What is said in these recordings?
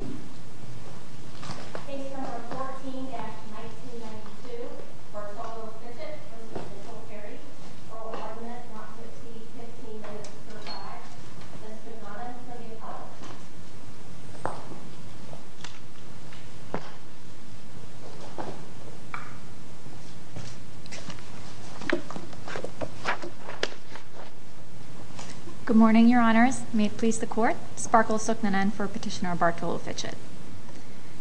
for ordinance not to exceed 15 minutes or five. Ms. Sukmanan, will you call the roll? Good morning, Your Honors. May it please the Court, Sparkle Sukmanan for Petitioner Bartolo Fitchett.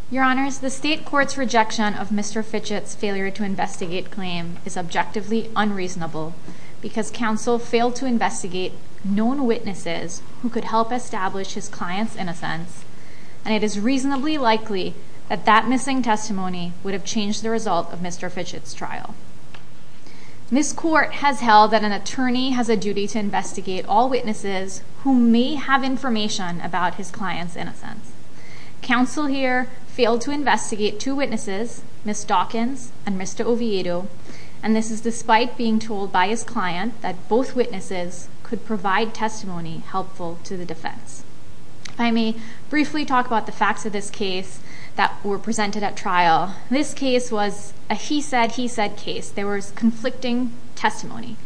Your Honors, the State Court's rejection of Mr. Fitchett's failure to investigate claim is objectively unreasonable because counsel failed to investigate known witnesses who could help establish his client's innocence, and it is reasonably likely that that missing testimony would have changed the result of Mr. Fitchett's trial. Ms. Court has held that an attorney has a duty to investigate all witnesses who may have information about his client's innocence. Counsel here failed to investigate two witnesses, Ms. Dawkins and Mr. Oviedo, and this is despite being told by his client that both witnesses could provide testimony helpful to the defense. If I may briefly talk about the facts of this case that were presented at trial. This case was a he-said-he-said case. There was conflicting testimony.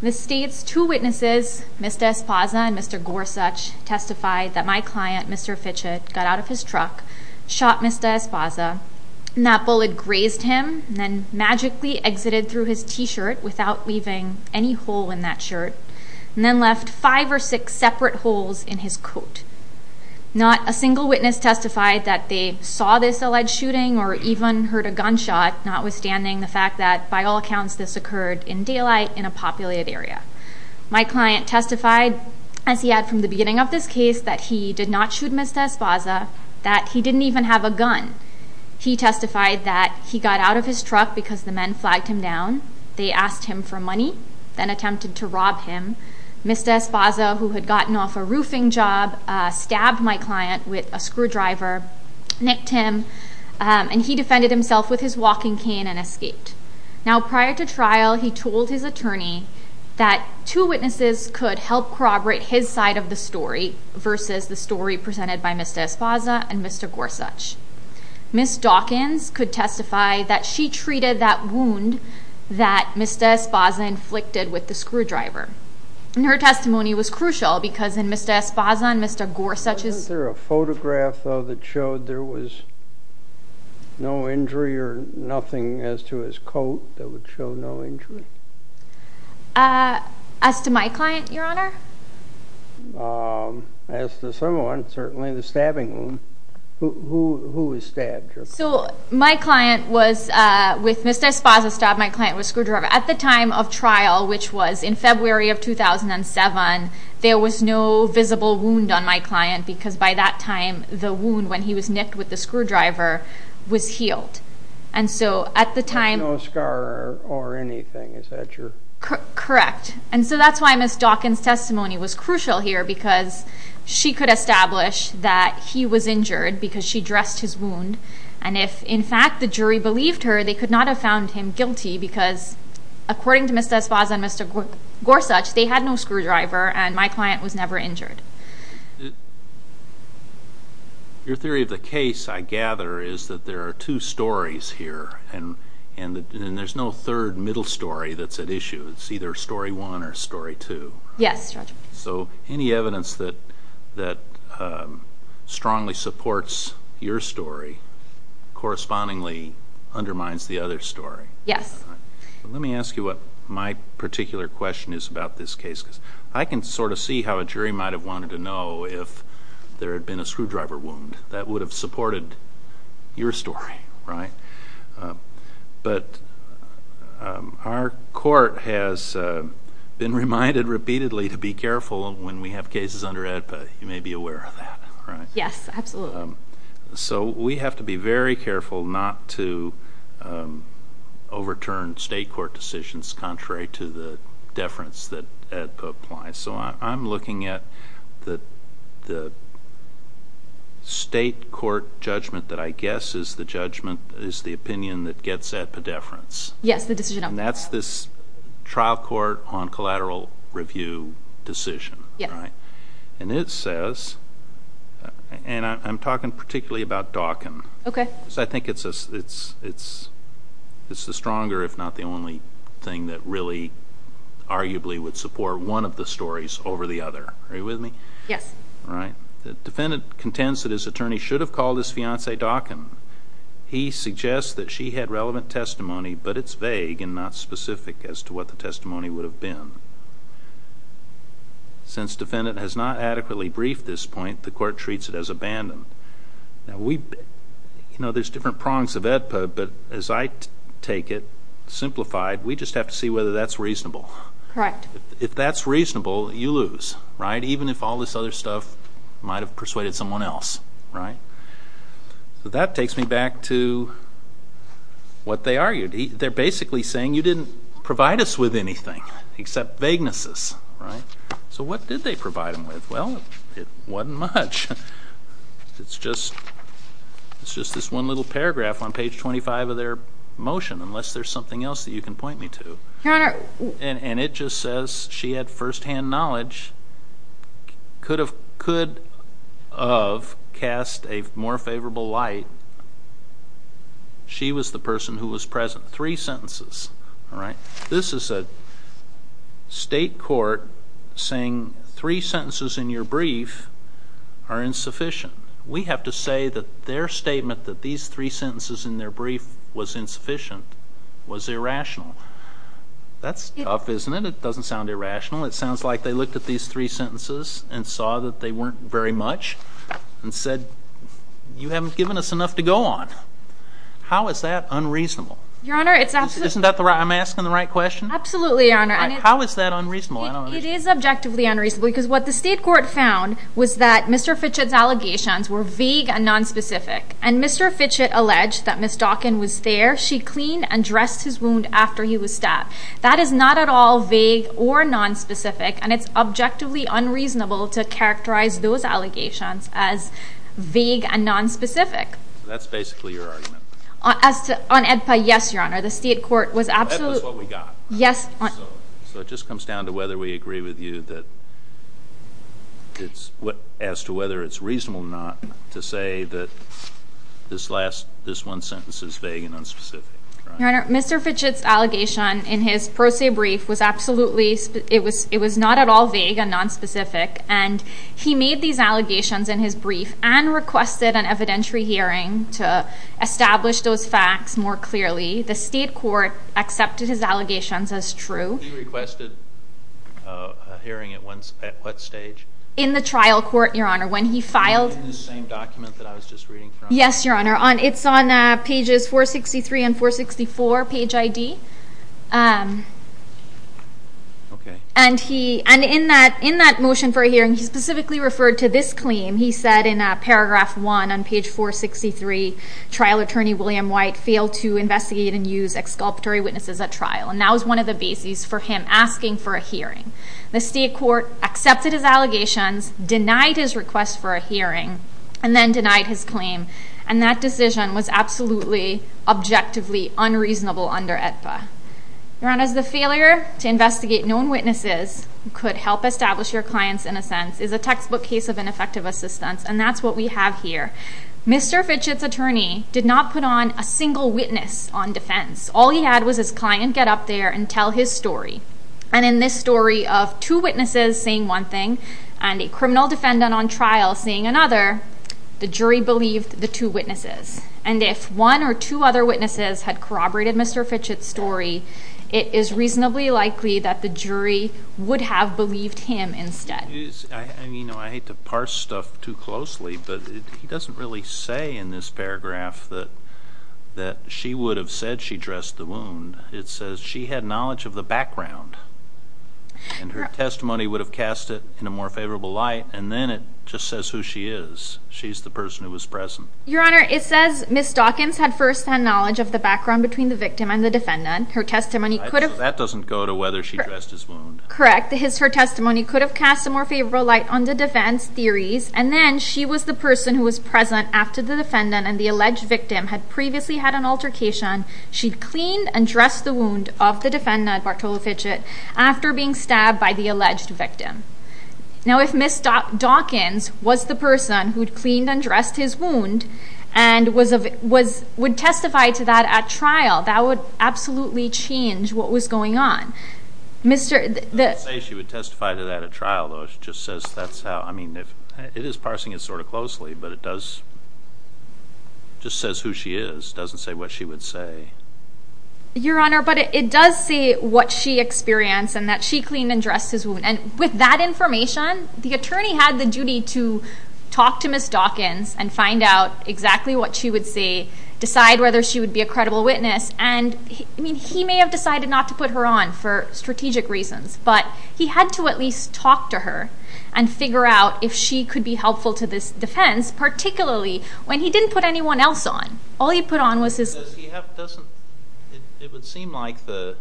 The State's two witnesses, Mr. Esposa and Mr. Gorsuch, testified that my client, Mr. Fitchett, got out of his truck, shot Mr. Esposa, and that bullet grazed him, and then magically exited through his T-shirt without leaving any hole in that shirt, and then left five or six separate holes in his coat. Not a single witness testified that they saw this alleged shooting or even heard a gunshot, notwithstanding the fact that, by all accounts, this occurred in daylight in a populated area. My client testified, as he had from the beginning of this case, that he did not shoot Mr. Esposa, that he didn't even have a gun. He testified that he got out of his truck because the men flagged him down. They asked him for money, then attempted to rob him. Mr. Esposa, who had gotten off a roofing job, stabbed my client with a screwdriver, nicked him, and he defended himself with his walking cane and escaped. Now, prior to trial, he told his attorney that two witnesses could help corroborate his side of the story versus the story presented by Mr. Esposa and Mr. Gorsuch. Ms. Dawkins could testify that she treated that wound that Mr. Esposa inflicted with the screwdriver. Her testimony was crucial because in Mr. Esposa and Mr. Gorsuch's... No injury or nothing as to his coat that would show no injury? As to my client, Your Honor? As to someone, certainly the stabbing wound. Who was stabbed? So my client was with Mr. Esposa, stabbed my client with a screwdriver. At the time of trial, which was in February of 2007, there was no visible wound on my client because by that time, the wound when he was nicked with the screwdriver was healed. And so at the time... No scar or anything, is that true? Correct. And so that's why Ms. Dawkins' testimony was crucial here because she could establish that he was injured because she dressed his wound. And if, in fact, the jury believed her, they could not have found him guilty because according to Mr. Esposa and Mr. Gorsuch, they had no screwdriver and my client was never injured. Your theory of the case, I gather, is that there are two stories here and there's no third middle story that's at issue. It's either story one or story two. Yes, Your Honor. So any evidence that strongly supports your story correspondingly undermines the other story. Yes. Let me ask you what my particular question is about this case because I can sort of see how a jury might have wanted to know if there had been a screwdriver wound. That would have supported your story, right? But our court has been reminded repeatedly to be careful when we have cases under AEDPA. You may be aware of that, right? Yes, absolutely. So we have to be very careful not to overturn state court decisions contrary to the deference that AEDPA applies. So I'm looking at the state court judgment that I guess is the judgment, is the opinion that gets AEDPA deference. Yes, the decision on that. And that's this trial court on collateral review decision, right? Yes. And it says, and I'm talking particularly about Dawkin. Okay. So I think it's the stronger, if not the only thing, that really arguably would support one of the stories over the other. Are you with me? Yes. All right. The defendant contends that his attorney should have called his fiancee Dawkin. He suggests that she had relevant testimony, but it's vague and not specific as to what the testimony would have been. Since defendant has not adequately briefed this point, the court treats it as abandoned. You know, there's different prongs of AEDPA, but as I take it, simplified, we just have to see whether that's reasonable. Correct. If that's reasonable, you lose, right, even if all this other stuff might have persuaded someone else, right? So that takes me back to what they argued. They're basically saying you didn't provide us with anything except vaguenesses, right? So what did they provide them with? Well, it wasn't much. It's just this one little paragraph on page 25 of their motion, unless there's something else that you can point me to. Your Honor. And it just says she had firsthand knowledge, could have cast a more favorable light. Three sentences, all right? This is a state court saying three sentences in your brief are insufficient. We have to say that their statement that these three sentences in their brief was insufficient was irrational. That's tough, isn't it? It doesn't sound irrational. It sounds like they looked at these three sentences and saw that they weren't very much and said, you haven't given us enough to go on. How is that unreasonable? Your Honor, it's absolutely not. I'm asking the right question? Absolutely, Your Honor. How is that unreasonable? It is objectively unreasonable because what the state court found was that Mr. Fitchett's allegations were vague and nonspecific. And Mr. Fitchett alleged that Ms. Dawkin was there. She cleaned and dressed his wound after he was stabbed. That is not at all vague or nonspecific, and it's objectively unreasonable to characterize those allegations as vague and nonspecific. That's basically your argument. On AEDPA, yes, Your Honor. The state court was absolutely— AEDPA is what we got. Yes. So it just comes down to whether we agree with you that it's—as to whether it's reasonable or not to say that this last—this one sentence is vague and nonspecific. Your Honor, Mr. Fitchett's allegation in his pro se brief was absolutely—it was not at all vague and nonspecific, and he made these allegations in his brief and requested an evidentiary hearing to establish those facts more clearly. The state court accepted his allegations as true. He requested a hearing at what stage? In the trial court, Your Honor, when he filed— In the same document that I was just reading from? Yes, Your Honor. It's on pages 463 and 464, page ID. Okay. And he—and in that motion for a hearing, he specifically referred to this claim. He said in paragraph 1 on page 463, trial attorney William White failed to investigate and use exculpatory witnesses at trial. And that was one of the bases for him asking for a hearing. The state court accepted his allegations, denied his request for a hearing, and then denied his claim. And that decision was absolutely, objectively unreasonable under AEDPA. Your Honor, the failure to investigate known witnesses could help establish your client's innocence is a textbook case of ineffective assistance, and that's what we have here. Mr. Fitchett's attorney did not put on a single witness on defense. All he had was his client get up there and tell his story. And in this story of two witnesses saying one thing and a criminal defendant on trial saying another, the jury believed the two witnesses. And if one or two other witnesses had corroborated Mr. Fitchett's story, it is reasonably likely that the jury would have believed him instead. I mean, you know, I hate to parse stuff too closely, but he doesn't really say in this paragraph that she would have said she dressed the wound. It says she had knowledge of the background. And her testimony would have cast it in a more favorable light. And then it just says who she is. She's the person who was present. Your Honor, it says Ms. Dawkins had firsthand knowledge of the background between the victim and the defendant. Her testimony could have... That doesn't go to whether she dressed his wound. Correct. Her testimony could have cast a more favorable light on the defense theories. And then she was the person who was present after the defendant and the alleged victim had previously had an altercation. She cleaned and dressed the wound of the defendant, Bartolo Fitchett, after being stabbed by the alleged victim. Now, if Ms. Dawkins was the person who'd cleaned and dressed his wound and would testify to that at trial, that would absolutely change what was going on. I wouldn't say she would testify to that at trial, though. It just says that's how... I mean, it is parsing it sort of closely, but it does... It just says who she is. It doesn't say what she would say. Your Honor, but it does say what she experienced and that she cleaned and dressed his wound. And with that information, the attorney had the duty to talk to Ms. Dawkins and find out exactly what she would say, decide whether she would be a credible witness. And, I mean, he may have decided not to put her on for strategic reasons, but he had to at least talk to her and figure out if she could be helpful to this defense, particularly when he didn't put anyone else on. All he put on was his... It would seem like the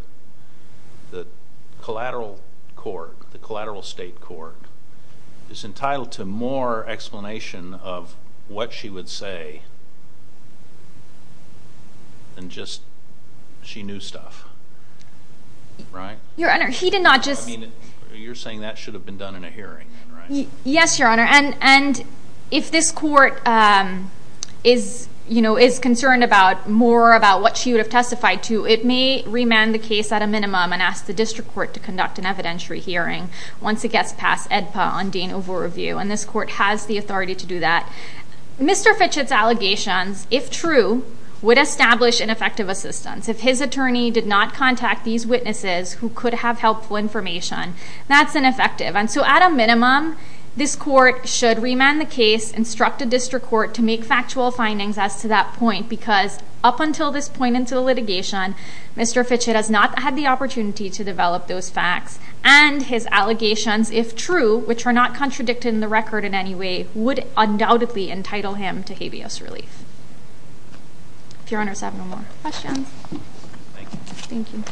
collateral court, the collateral state court, is entitled to more explanation of what she would say than just she knew stuff, right? Your Honor, he did not just... I mean, you're saying that should have been done in a hearing, right? Yes, Your Honor. And if this court is concerned about more about what she would have testified to, it may remand the case at a minimum and ask the district court to conduct an evidentiary hearing once it gets past AEDPA on Dane Overview, and this court has the authority to do that. Mr. Fitchett's allegations, if true, would establish ineffective assistance. If his attorney did not contact these witnesses who could have helpful information, that's ineffective. And so at a minimum, this court should remand the case, instruct a district court to make factual findings as to that point because up until this point into the litigation, Mr. Fitchett has not had the opportunity to develop those facts, and his allegations, if true, which are not contradicted in the record in any way, would undoubtedly entitle him to habeas relief. If Your Honor has no more questions. Thank you. Thank you. Thank you.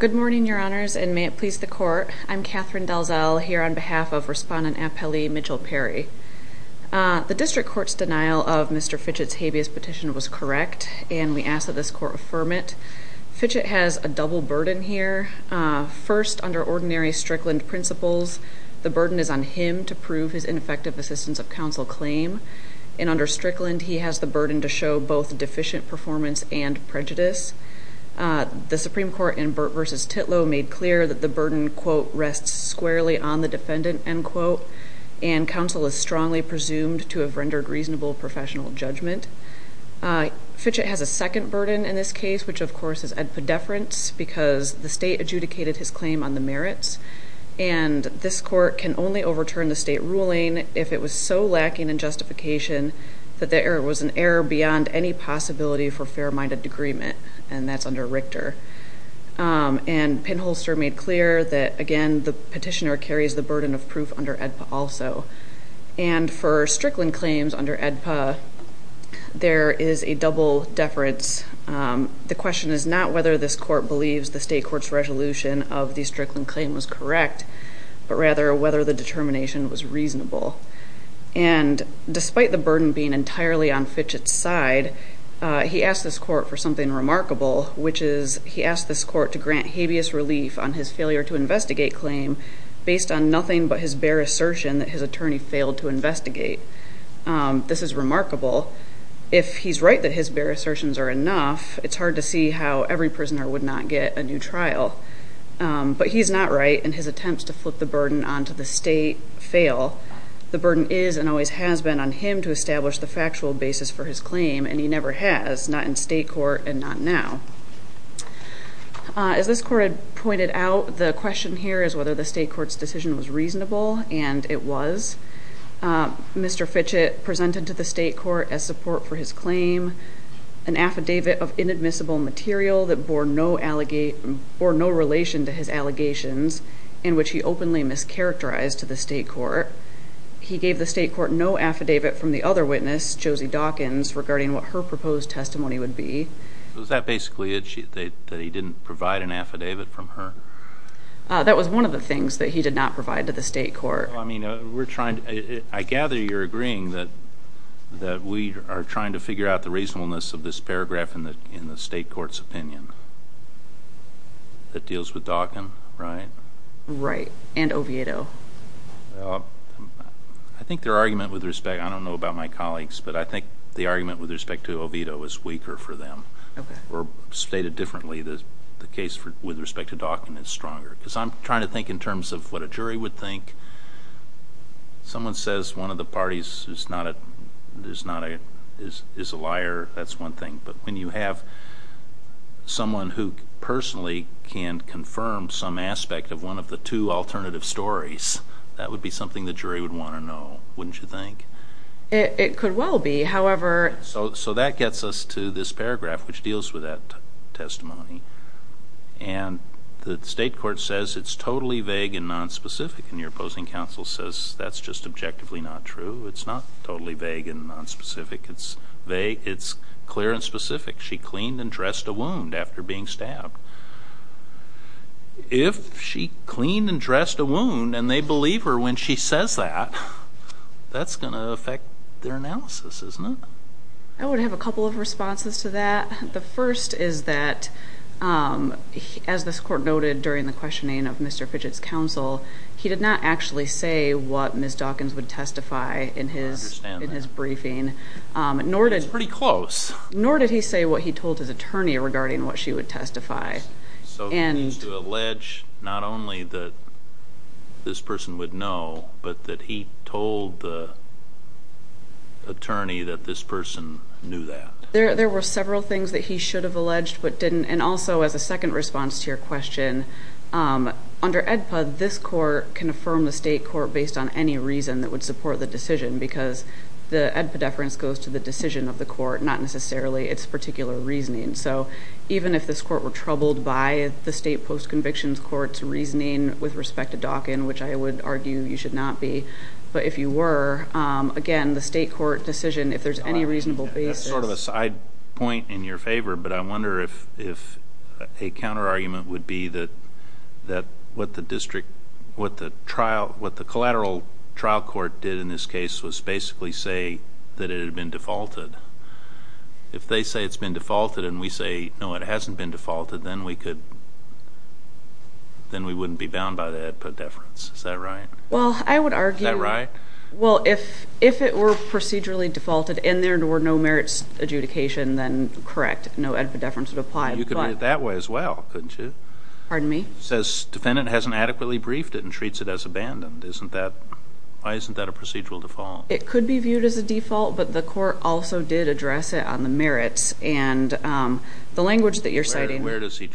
Good morning, Your Honors, and may it please the court. I'm Catherine Dalzell here on behalf of Respondent Appellee Mitchell Perry. The district court's denial of Mr. Fitchett's habeas petition was correct, and we ask that this court affirm it. Fitchett has a double burden here. First, under ordinary Strickland principles, the burden is on him to prove his ineffective assistance of counsel claim, and under Strickland he has the burden to show both deficient performance and prejudice. The Supreme Court in Burt v. Titlow made clear that the burden, quote, rests squarely on the defendant, end quote, and counsel is strongly presumed to have rendered reasonable professional judgment. This is AEDPA deference because the state adjudicated his claim on the merits, and this court can only overturn the state ruling if it was so lacking in justification that there was an error beyond any possibility for fair-minded agreement, and that's under Richter. And Pinholster made clear that, again, the petitioner carries the burden of proof under AEDPA also. And for Strickland claims under AEDPA, there is a double deference. The question is not whether this court believes the state court's resolution of the Strickland claim was correct, but rather whether the determination was reasonable. And despite the burden being entirely on Fitchett's side, he asked this court for something remarkable, which is he asked this court to grant habeas relief on his failure to investigate claim based on nothing but his bare assertion that his attorney failed to investigate. This is remarkable. If he's right that his bare assertions are enough, it's hard to see how every prisoner would not get a new trial. But he's not right, and his attempts to flip the burden onto the state fail. The burden is and always has been on him to establish the factual basis for his claim, and he never has, not in state court and not now. As this court had pointed out, the question here is whether the state court's decision was reasonable, and it was. Mr. Fitchett presented to the state court, as support for his claim, an affidavit of inadmissible material that bore no relation to his allegations, in which he openly mischaracterized to the state court. He gave the state court no affidavit from the other witness, Josie Dawkins, regarding what her proposed testimony would be. Was that basically that he didn't provide an affidavit from her? That was one of the things that he did not provide to the state court. I gather you're agreeing that we are trying to figure out the reasonableness of this paragraph in the state court's opinion. That deals with Dawkins, right? Right, and Oviedo. I think their argument with respect, I don't know about my colleagues, but I think the argument with respect to Oviedo is weaker for them. I'm trying to think in terms of what a jury would think. Someone says one of the parties is a liar. That's one thing, but when you have someone who personally can confirm some aspect of one of the two alternative stories, that would be something the jury would want to know, wouldn't you think? It could well be, however... That gets us to this paragraph, which deals with that testimony. The state court says it's totally vague and nonspecific, and your opposing counsel says that's just objectively not true. It's not totally vague and nonspecific. It's clear and specific. She cleaned and dressed a wound after being stabbed. If she cleaned and dressed a wound and they believe her when she says that, that's going to affect their analysis, isn't it? I would have a couple of responses to that. The first is that, as this court noted during the questioning of Mr. Fidget's counsel, he did not actually say what Ms. Dawkins would testify in his briefing. I understand that. It was pretty close. Nor did he say what he told his attorney regarding what she would testify. So he means to allege not only that this person would know, but that he told the attorney that this person knew that. There were several things that he should have alleged but didn't. And also, as a second response to your question, under AEDPA, this court can affirm the state court based on any reason that would support the decision, because the AEDPA deference goes to the decision of the court, not necessarily its particular reasoning. So even if this court were troubled by the state post-conviction court's reasoning with respect to Dawkins, which I would argue you should not be, but if you were, again, the state court decision, if there's any reasonable basis. That's sort of a side point in your favor, but I wonder if a counter-argument would be that what the collateral trial court did in this case was basically say that it had been defaulted. If they say it's been defaulted and we say, no, it hasn't been defaulted, then we wouldn't be bound by the AEDPA deference. Is that right? Is that right? Well, if it were procedurally defaulted and there were no merits adjudication, then correct. No AEDPA deference would apply. You could read it that way as well, couldn't you? Pardon me? It says defendant hasn't adequately briefed it and treats it as abandoned. Why isn't that a procedural default? It could be viewed as a default, but the court also did address it on the merits. And the language that you're citing ñ Where does he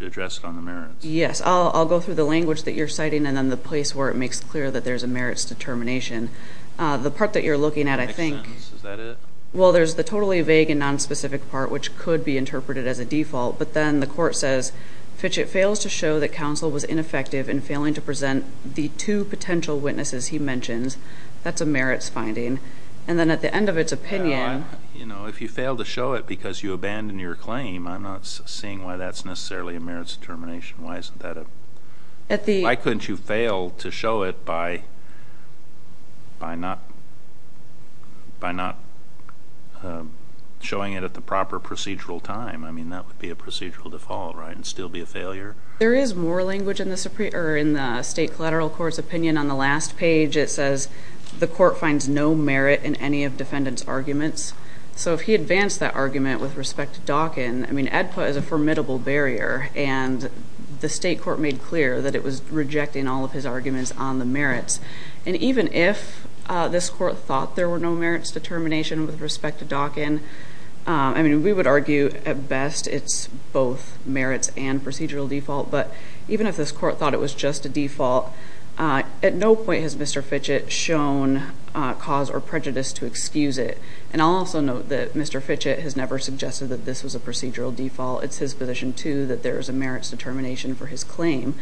address it on the merits? Yes, I'll go through the language that you're citing and then the place where it makes clear that there's a merits determination. The part that you're looking at, I think ñ Next sentence. Is that it? Well, there's the totally vague and nonspecific part, which could be interpreted as a default. But then the court says, Fitchett fails to show that counsel was ineffective in failing to present the two potential witnesses he mentions. That's a merits finding. And then at the end of its opinion ñ You know, if you fail to show it because you abandon your claim, I'm not seeing why that's necessarily a merits determination. Why couldn't you fail to show it by not showing it at the proper procedural time? I mean, that would be a procedural default, right, and still be a failure? There is more language in the state collateral court's opinion. On the last page, it says the court finds no merit in any of defendant's arguments. So if he advanced that argument with respect to Dawkin, I mean, ADPA is a formidable barrier. And the state court made clear that it was rejecting all of his arguments on the merits. And even if this court thought there were no merits determination with respect to Dawkin, I mean, we would argue at best it's both merits and procedural default. But even if this court thought it was just a default, at no point has Mr. Fitchett shown cause or prejudice to excuse it. And I'll also note that Mr. Fitchett has never suggested that this was a procedural default. It's his position, too, that there is a merits determination for his claim.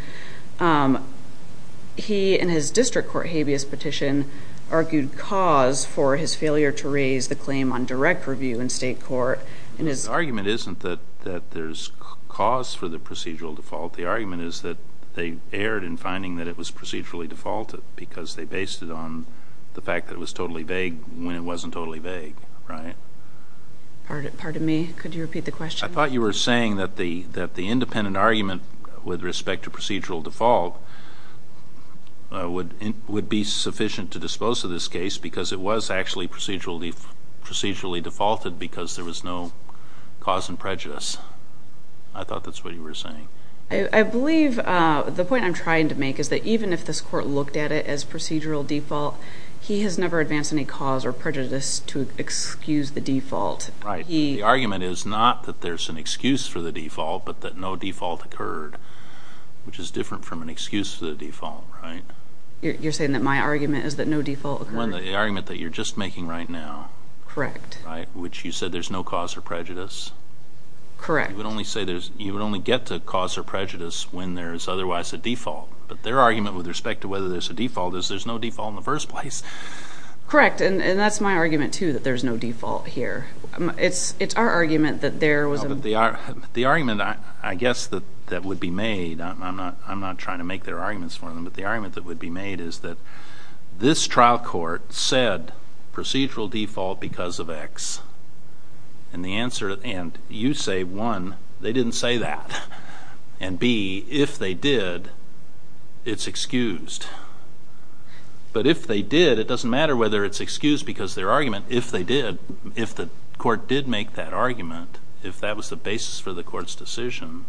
He, in his district court habeas petition, argued cause for his failure to raise the claim on direct review in state court. The argument isn't that there's cause for the procedural default. The argument is that they erred in finding that it was procedurally defaulted because they based it on the fact that it was totally vague when it wasn't totally vague, right? Pardon me? Could you repeat the question? I thought you were saying that the independent argument with respect to procedural default would be sufficient to dispose of this case because it was actually procedurally defaulted because there was no cause and prejudice. I thought that's what you were saying. I believe the point I'm trying to make is that even if this court looked at it as procedural default, he has never advanced any cause or prejudice to excuse the default. Right. The argument is not that there's an excuse for the default but that no default occurred, which is different from an excuse for the default, right? You're saying that my argument is that no default occurred? The argument that you're just making right now. Correct. Right, which you said there's no cause or prejudice. Correct. You would only get to cause or prejudice when there is otherwise a default, but their argument with respect to whether there's a default is there's no default in the first place. Correct, and that's my argument, too, that there's no default here. It's our argument that there was a default. The argument, I guess, that would be made, I'm not trying to make their arguments for them, but the argument that would be made is that this trial court said procedural default because of X, and you say, one, they didn't say that, and, B, if they did, it's excused. But if they did, it doesn't matter whether it's excused because their argument, if they did, if the court did make that argument, if that was the basis for the court's decision,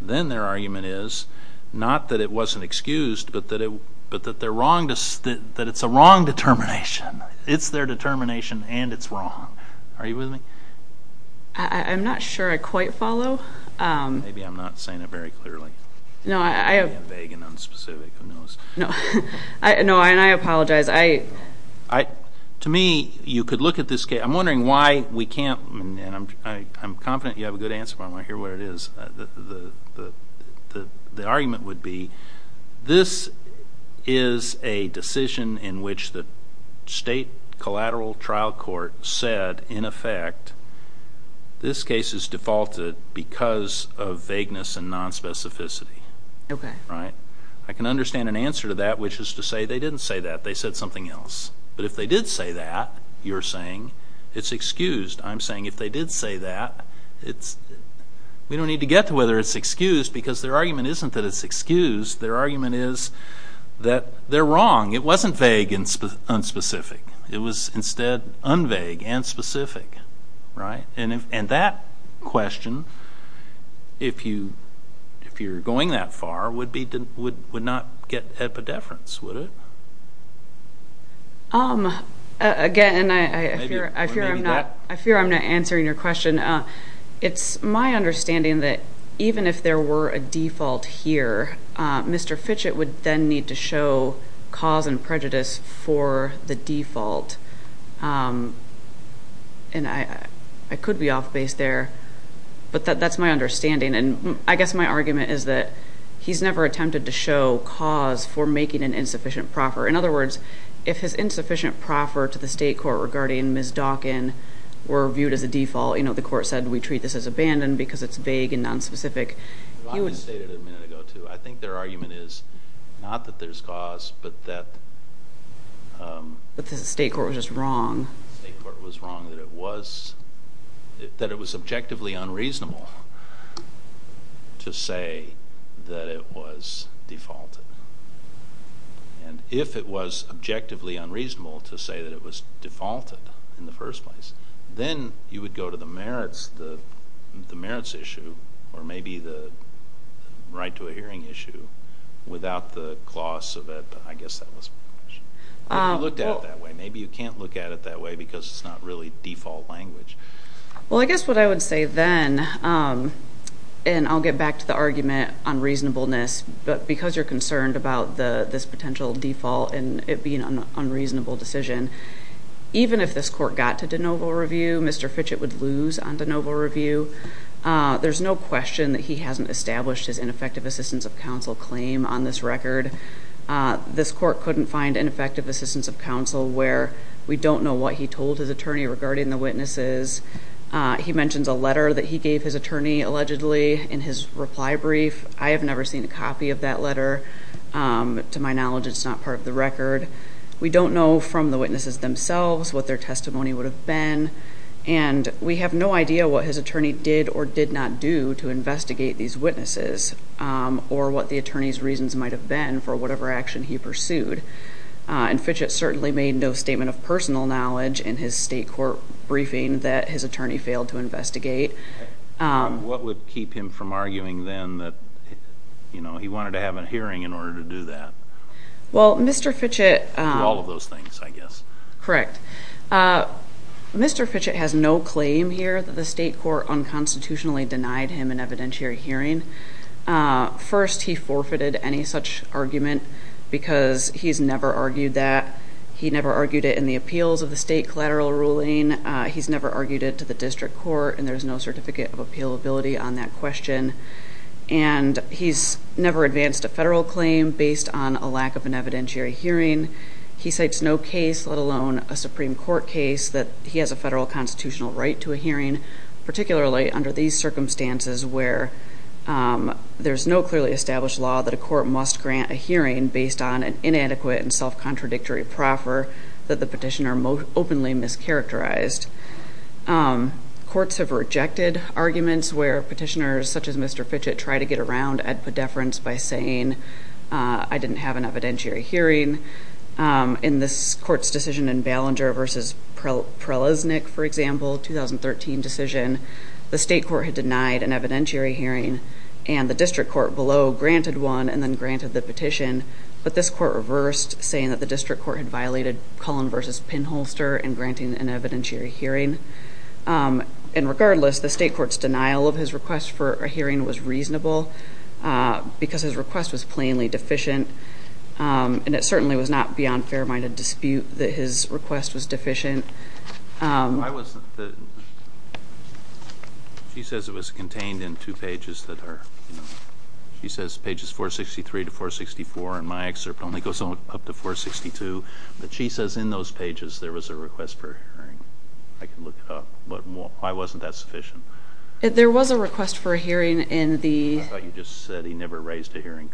then their argument is not that it wasn't excused but that it's a wrong determination. It's their determination and it's wrong. Are you with me? I'm not sure I quite follow. Maybe I'm not saying it very clearly. I'm vague and unspecific, who knows. No, and I apologize. To me, you could look at this case. I'm wondering why we can't, and I'm confident you have a good answer, but I want to hear what it is. The argument would be this is a decision in which the state collateral trial court said, in effect, this case is defaulted because of vagueness and nonspecificity. I can understand an answer to that, which is to say they didn't say that. They said something else. But if they did say that, you're saying it's excused. I'm saying if they did say that, we don't need to get to whether it's excused because their argument isn't that it's excused. Their argument is that they're wrong. It wasn't vague and unspecific. It was instead unvague and specific, right? And that question, if you're going that far, would not get epidefference, would it? Again, I fear I'm not answering your question. It's my understanding that even if there were a default here, Mr. Fitchett would then need to show cause and prejudice for the default. And I could be off base there, but that's my understanding. And I guess my argument is that he's never attempted to show cause for making an insufficient proffer. In other words, if his insufficient proffer to the state court regarding Ms. Dawkin were viewed as a default, you know, the court said we treat this as abandoned because it's vague and nonspecific. I would say that a minute ago too. I think their argument is not that there's cause, but that... But the state court was just wrong. The state court was wrong that it was objectively unreasonable to say that it was defaulted. And if it was objectively unreasonable to say that it was defaulted in the first place, then you would go to the merits issue or maybe the right to a hearing issue without the clause of it. But I guess that was my question. But you looked at it that way. Maybe you can't look at it that way because it's not really default language. Well, I guess what I would say then, and I'll get back to the argument on reasonableness, but because you're concerned about this potential default and it being an unreasonable decision, even if this court got to de novo review, Mr. Fitchett would lose on de novo review. There's no question that he hasn't established his ineffective assistance of counsel claim on this record. This court couldn't find ineffective assistance of counsel where we don't know what he told his attorney regarding the witnesses. He mentions a letter that he gave his attorney allegedly in his reply brief. I have never seen a copy of that letter. To my knowledge, it's not part of the record. We don't know from the witnesses themselves what their testimony would have been, and we have no idea what his attorney did or did not do to investigate these witnesses or what the attorney's reasons might have been for whatever action he pursued. And Fitchett certainly made no statement of personal knowledge in his state court briefing that his attorney failed to investigate. What would keep him from arguing then that he wanted to have a hearing in order to do that? Well, Mr. Fitchett- All of those things, I guess. Correct. Mr. Fitchett has no claim here that the state court unconstitutionally denied him an evidentiary hearing. First, he forfeited any such argument because he's never argued that. He never argued it in the appeals of the state collateral ruling. He's never argued it to the district court, and there's no certificate of appealability on that question. And he's never advanced a federal claim based on a lack of an evidentiary hearing. He cites no case, let alone a Supreme Court case, that he has a federal constitutional right to a hearing, particularly under these circumstances where there's no clearly established law that a court must grant a hearing based on an inadequate and self-contradictory proffer that the petitioner openly mischaracterized. Courts have rejected arguments where petitioners such as Mr. Fitchett try to get around Ed Poddeference by saying, I didn't have an evidentiary hearing. In this court's decision in Ballinger v. Preleznik, for example, 2013 decision, the state court had denied an evidentiary hearing, and the district court below granted one and then granted the petition. But this court reversed, saying that the district court had violated Cullen v. Pinholster in granting an evidentiary hearing. And regardless, the state court's denial of his request for a hearing was reasonable, because his request was plainly deficient. And it certainly was not beyond fair-minded dispute that his request was deficient. She says it was contained in two pages. She says pages 463 to 464 in my excerpt only goes up to 462. But she says in those pages there was a request for a hearing. I can look it up. Why wasn't that sufficient? There was a request for a hearing in the- I thought you just said he never raised a hearing.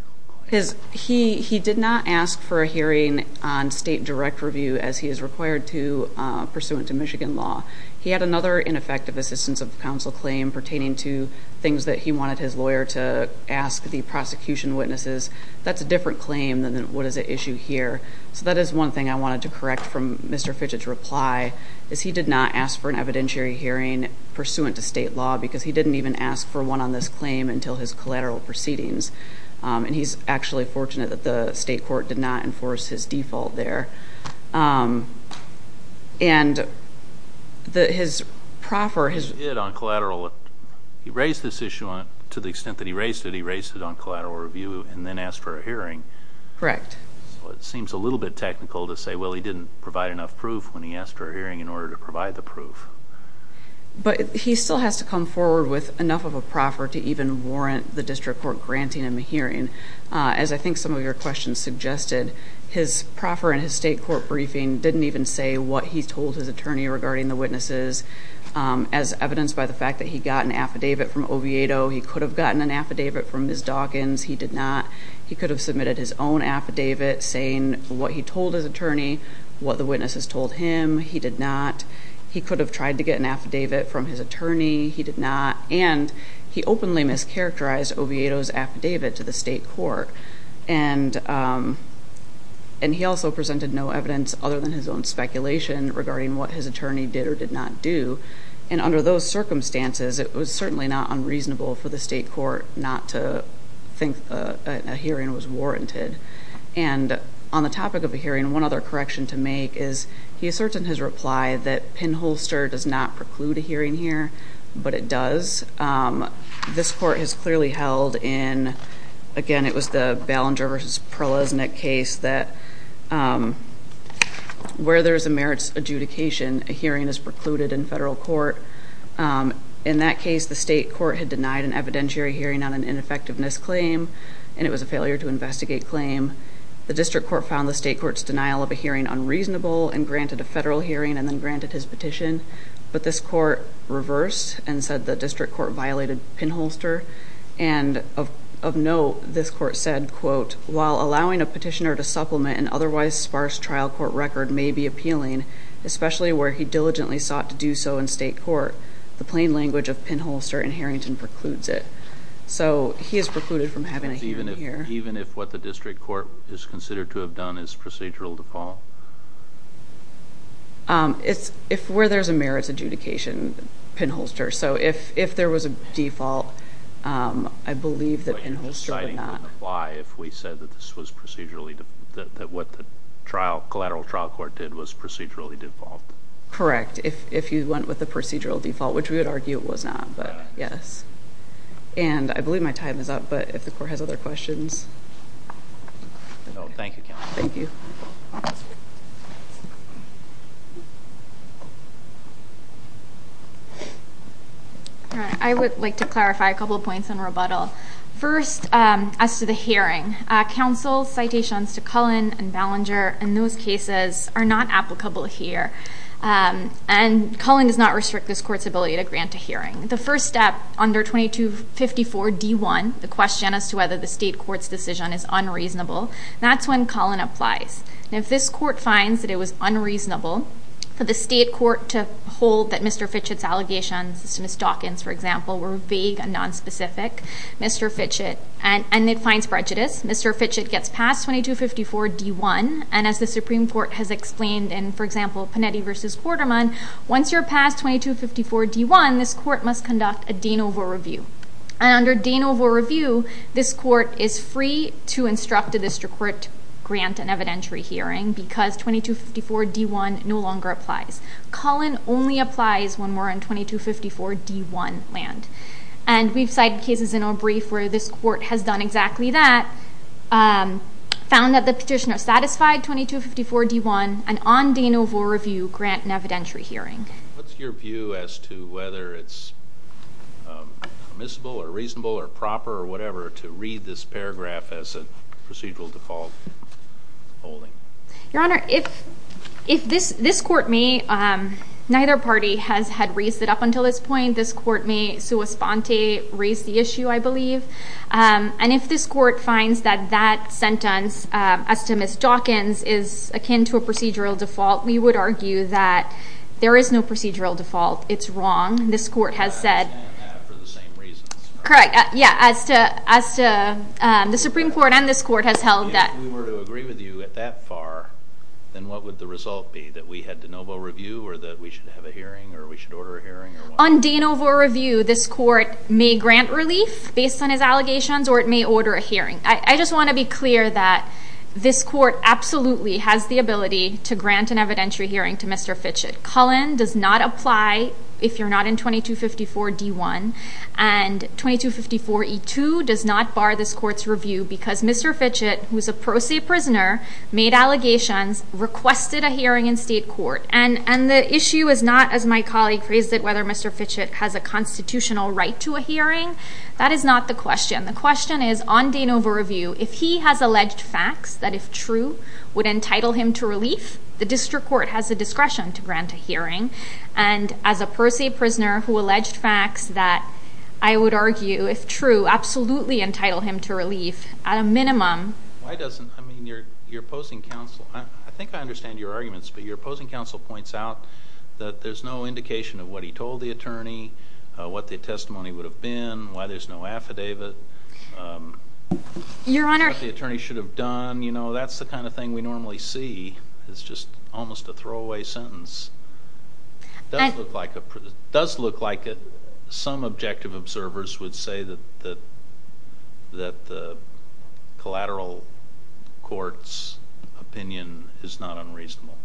He did not ask for a hearing on state direct review as he is required to pursuant to Michigan law. He had another ineffective assistance of counsel claim pertaining to things that he wanted his lawyer to ask the prosecution witnesses. That's a different claim than what is at issue here. So that is one thing I wanted to correct from Mr. Fitch's reply, is he did not ask for an evidentiary hearing pursuant to state law, because he didn't even ask for one on this claim until his collateral proceedings. He's actually fortunate that the state court did not enforce his default there. His proffer- He did on collateral. He raised this issue to the extent that he raised it. He raised it on collateral review and then asked for a hearing. Correct. It seems a little bit technical to say, well, he didn't provide enough proof when he asked for a hearing in order to provide the proof. But he still has to come forward with enough of a proffer to even warrant the district court granting him a hearing. As I think some of your questions suggested, his proffer in his state court briefing didn't even say what he told his attorney regarding the witnesses, as evidenced by the fact that he got an affidavit from Oviedo. He could have gotten an affidavit from Ms. Dawkins. He did not. He could have submitted his own affidavit saying what he told his attorney, what the witnesses told him. He did not. He could have tried to get an affidavit from his attorney. He did not. And he openly mischaracterized Oviedo's affidavit to the state court. And he also presented no evidence other than his own speculation regarding what his attorney did or did not do. And under those circumstances, it was certainly not unreasonable for the state court not to think a hearing was warranted. And on the topic of a hearing, one other correction to make is he asserts in his reply that pinholster does not preclude a hearing here, but it does. This court has clearly held in, again, it was the Ballinger v. Perleznick case, that where there is a merits adjudication, a hearing is precluded in federal court. In that case, the state court had denied an evidentiary hearing on an ineffectiveness claim, and it was a failure to investigate claim. The district court found the state court's denial of a hearing unreasonable and granted a federal hearing and then granted his petition. But this court reversed and said the district court violated pinholster. And of note, this court said, quote, while allowing a petitioner to supplement an otherwise sparse trial court record may be appealing, especially where he diligently sought to do so in state court, the plain language of pinholster in Harrington precludes it. So he is precluded from having a hearing here. Even if what the district court is considered to have done is procedural default? If where there's a merits adjudication, pinholster. So if there was a default, I believe that pinholster would not. But you're deciding wouldn't apply if we said that this was procedurally default, that what the collateral trial court did was procedurally default? Correct, if you went with the procedural default, which we would argue it was not, but yes. And I believe my time is up, but if the court has other questions. Thank you, counsel. Thank you. I would like to clarify a couple of points on rebuttal. First, as to the hearing, counsel's citations to Cullen and Ballinger in those cases are not applicable here. And Cullen does not restrict this court's ability to grant a hearing. The first step under 2254 D1, the question as to whether the state court's decision is unreasonable, that's when Cullen applies. If this court finds that it was unreasonable for the state court to hold that Mr. Fitchett's allegations to Ms. Dawkins, for example, were vague and nonspecific, Mr. Fitchett, and it finds prejudice, Mr. Fitchett gets passed 2254 D1, and as the Supreme Court has explained in, for example, Panetti v. Quarterman, once you're passed 2254 D1, this court must conduct a Danova review. And under Danova review, this court is free to instruct a district court to grant an evidentiary hearing because 2254 D1 no longer applies. Cullen only applies when we're on 2254 D1 land. And we've cited cases in our brief where this court has done exactly that, found that the petitioner satisfied 2254 D1, and on Danova review, grant an evidentiary hearing. What's your view as to whether it's permissible or reasonable or proper or whatever to read this paragraph as a procedural default holding? Your Honor, if this court may, neither party has had raised it up until this point. This court may, sua sponte, raise the issue, I believe. And if this court finds that that sentence, as to Ms. Dawkins, is akin to a procedural default, we would argue that there is no procedural default. It's wrong. This court has said— —for the same reasons, correct? Correct. Yeah, as to—the Supreme Court and this court has held that— If we were to agree with you at that far, then what would the result be, that we had Danova review or that we should have a hearing or we should order a hearing or what? On Danova review, this court may grant relief based on his allegations or it may order a hearing. I just want to be clear that this court absolutely has the ability to grant an evidentiary hearing to Mr. Fitchett. Cullen does not apply if you're not in 2254 D1. And 2254 E2 does not bar this court's review because Mr. Fitchett, who's a pro se prisoner, made allegations, requested a hearing in state court. And the issue is not, as my colleague raised it, whether Mr. Fitchett has a constitutional right to a hearing. That is not the question. The question is, on Danova review, if he has alleged facts that, if true, would entitle him to relief, the district court has the discretion to grant a hearing. And as a pro se prisoner who alleged facts that, I would argue, if true, absolutely entitle him to relief, at a minimum— Why doesn't—I mean, you're opposing counsel. I think I understand your arguments, but your opposing counsel points out that there's no indication of what he told the attorney, what the testimony would have been, why there's no affidavit, what the attorney should have done. You know, that's the kind of thing we normally see. It's just almost a throwaway sentence. It does look like some objective observers would say that the collateral court's opinion is not unreasonable.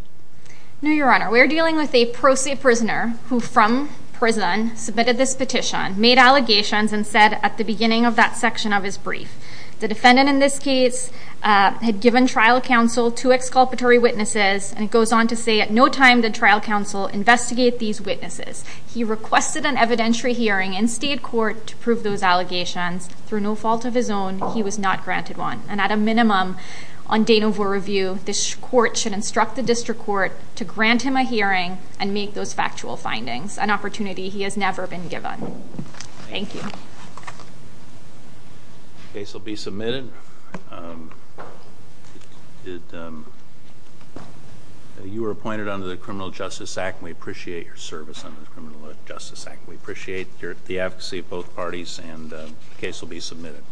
No, Your Honor. We're dealing with a pro se prisoner who, from prison, submitted this petition, made allegations, and said at the beginning of that section of his brief, the defendant in this case had given trial counsel to exculpatory witnesses, and it goes on to say, at no time did trial counsel investigate these witnesses. He requested an evidentiary hearing in state court to prove those allegations. Through no fault of his own, he was not granted one. And at a minimum, on date of review, this court should instruct the district court to grant him a hearing and make those factual findings, an opportunity he has never been given. Thank you. The case will be submitted. You are appointed under the Criminal Justice Act, and we appreciate your service under the Criminal Justice Act. We appreciate the advocacy of both parties, and the case will be submitted.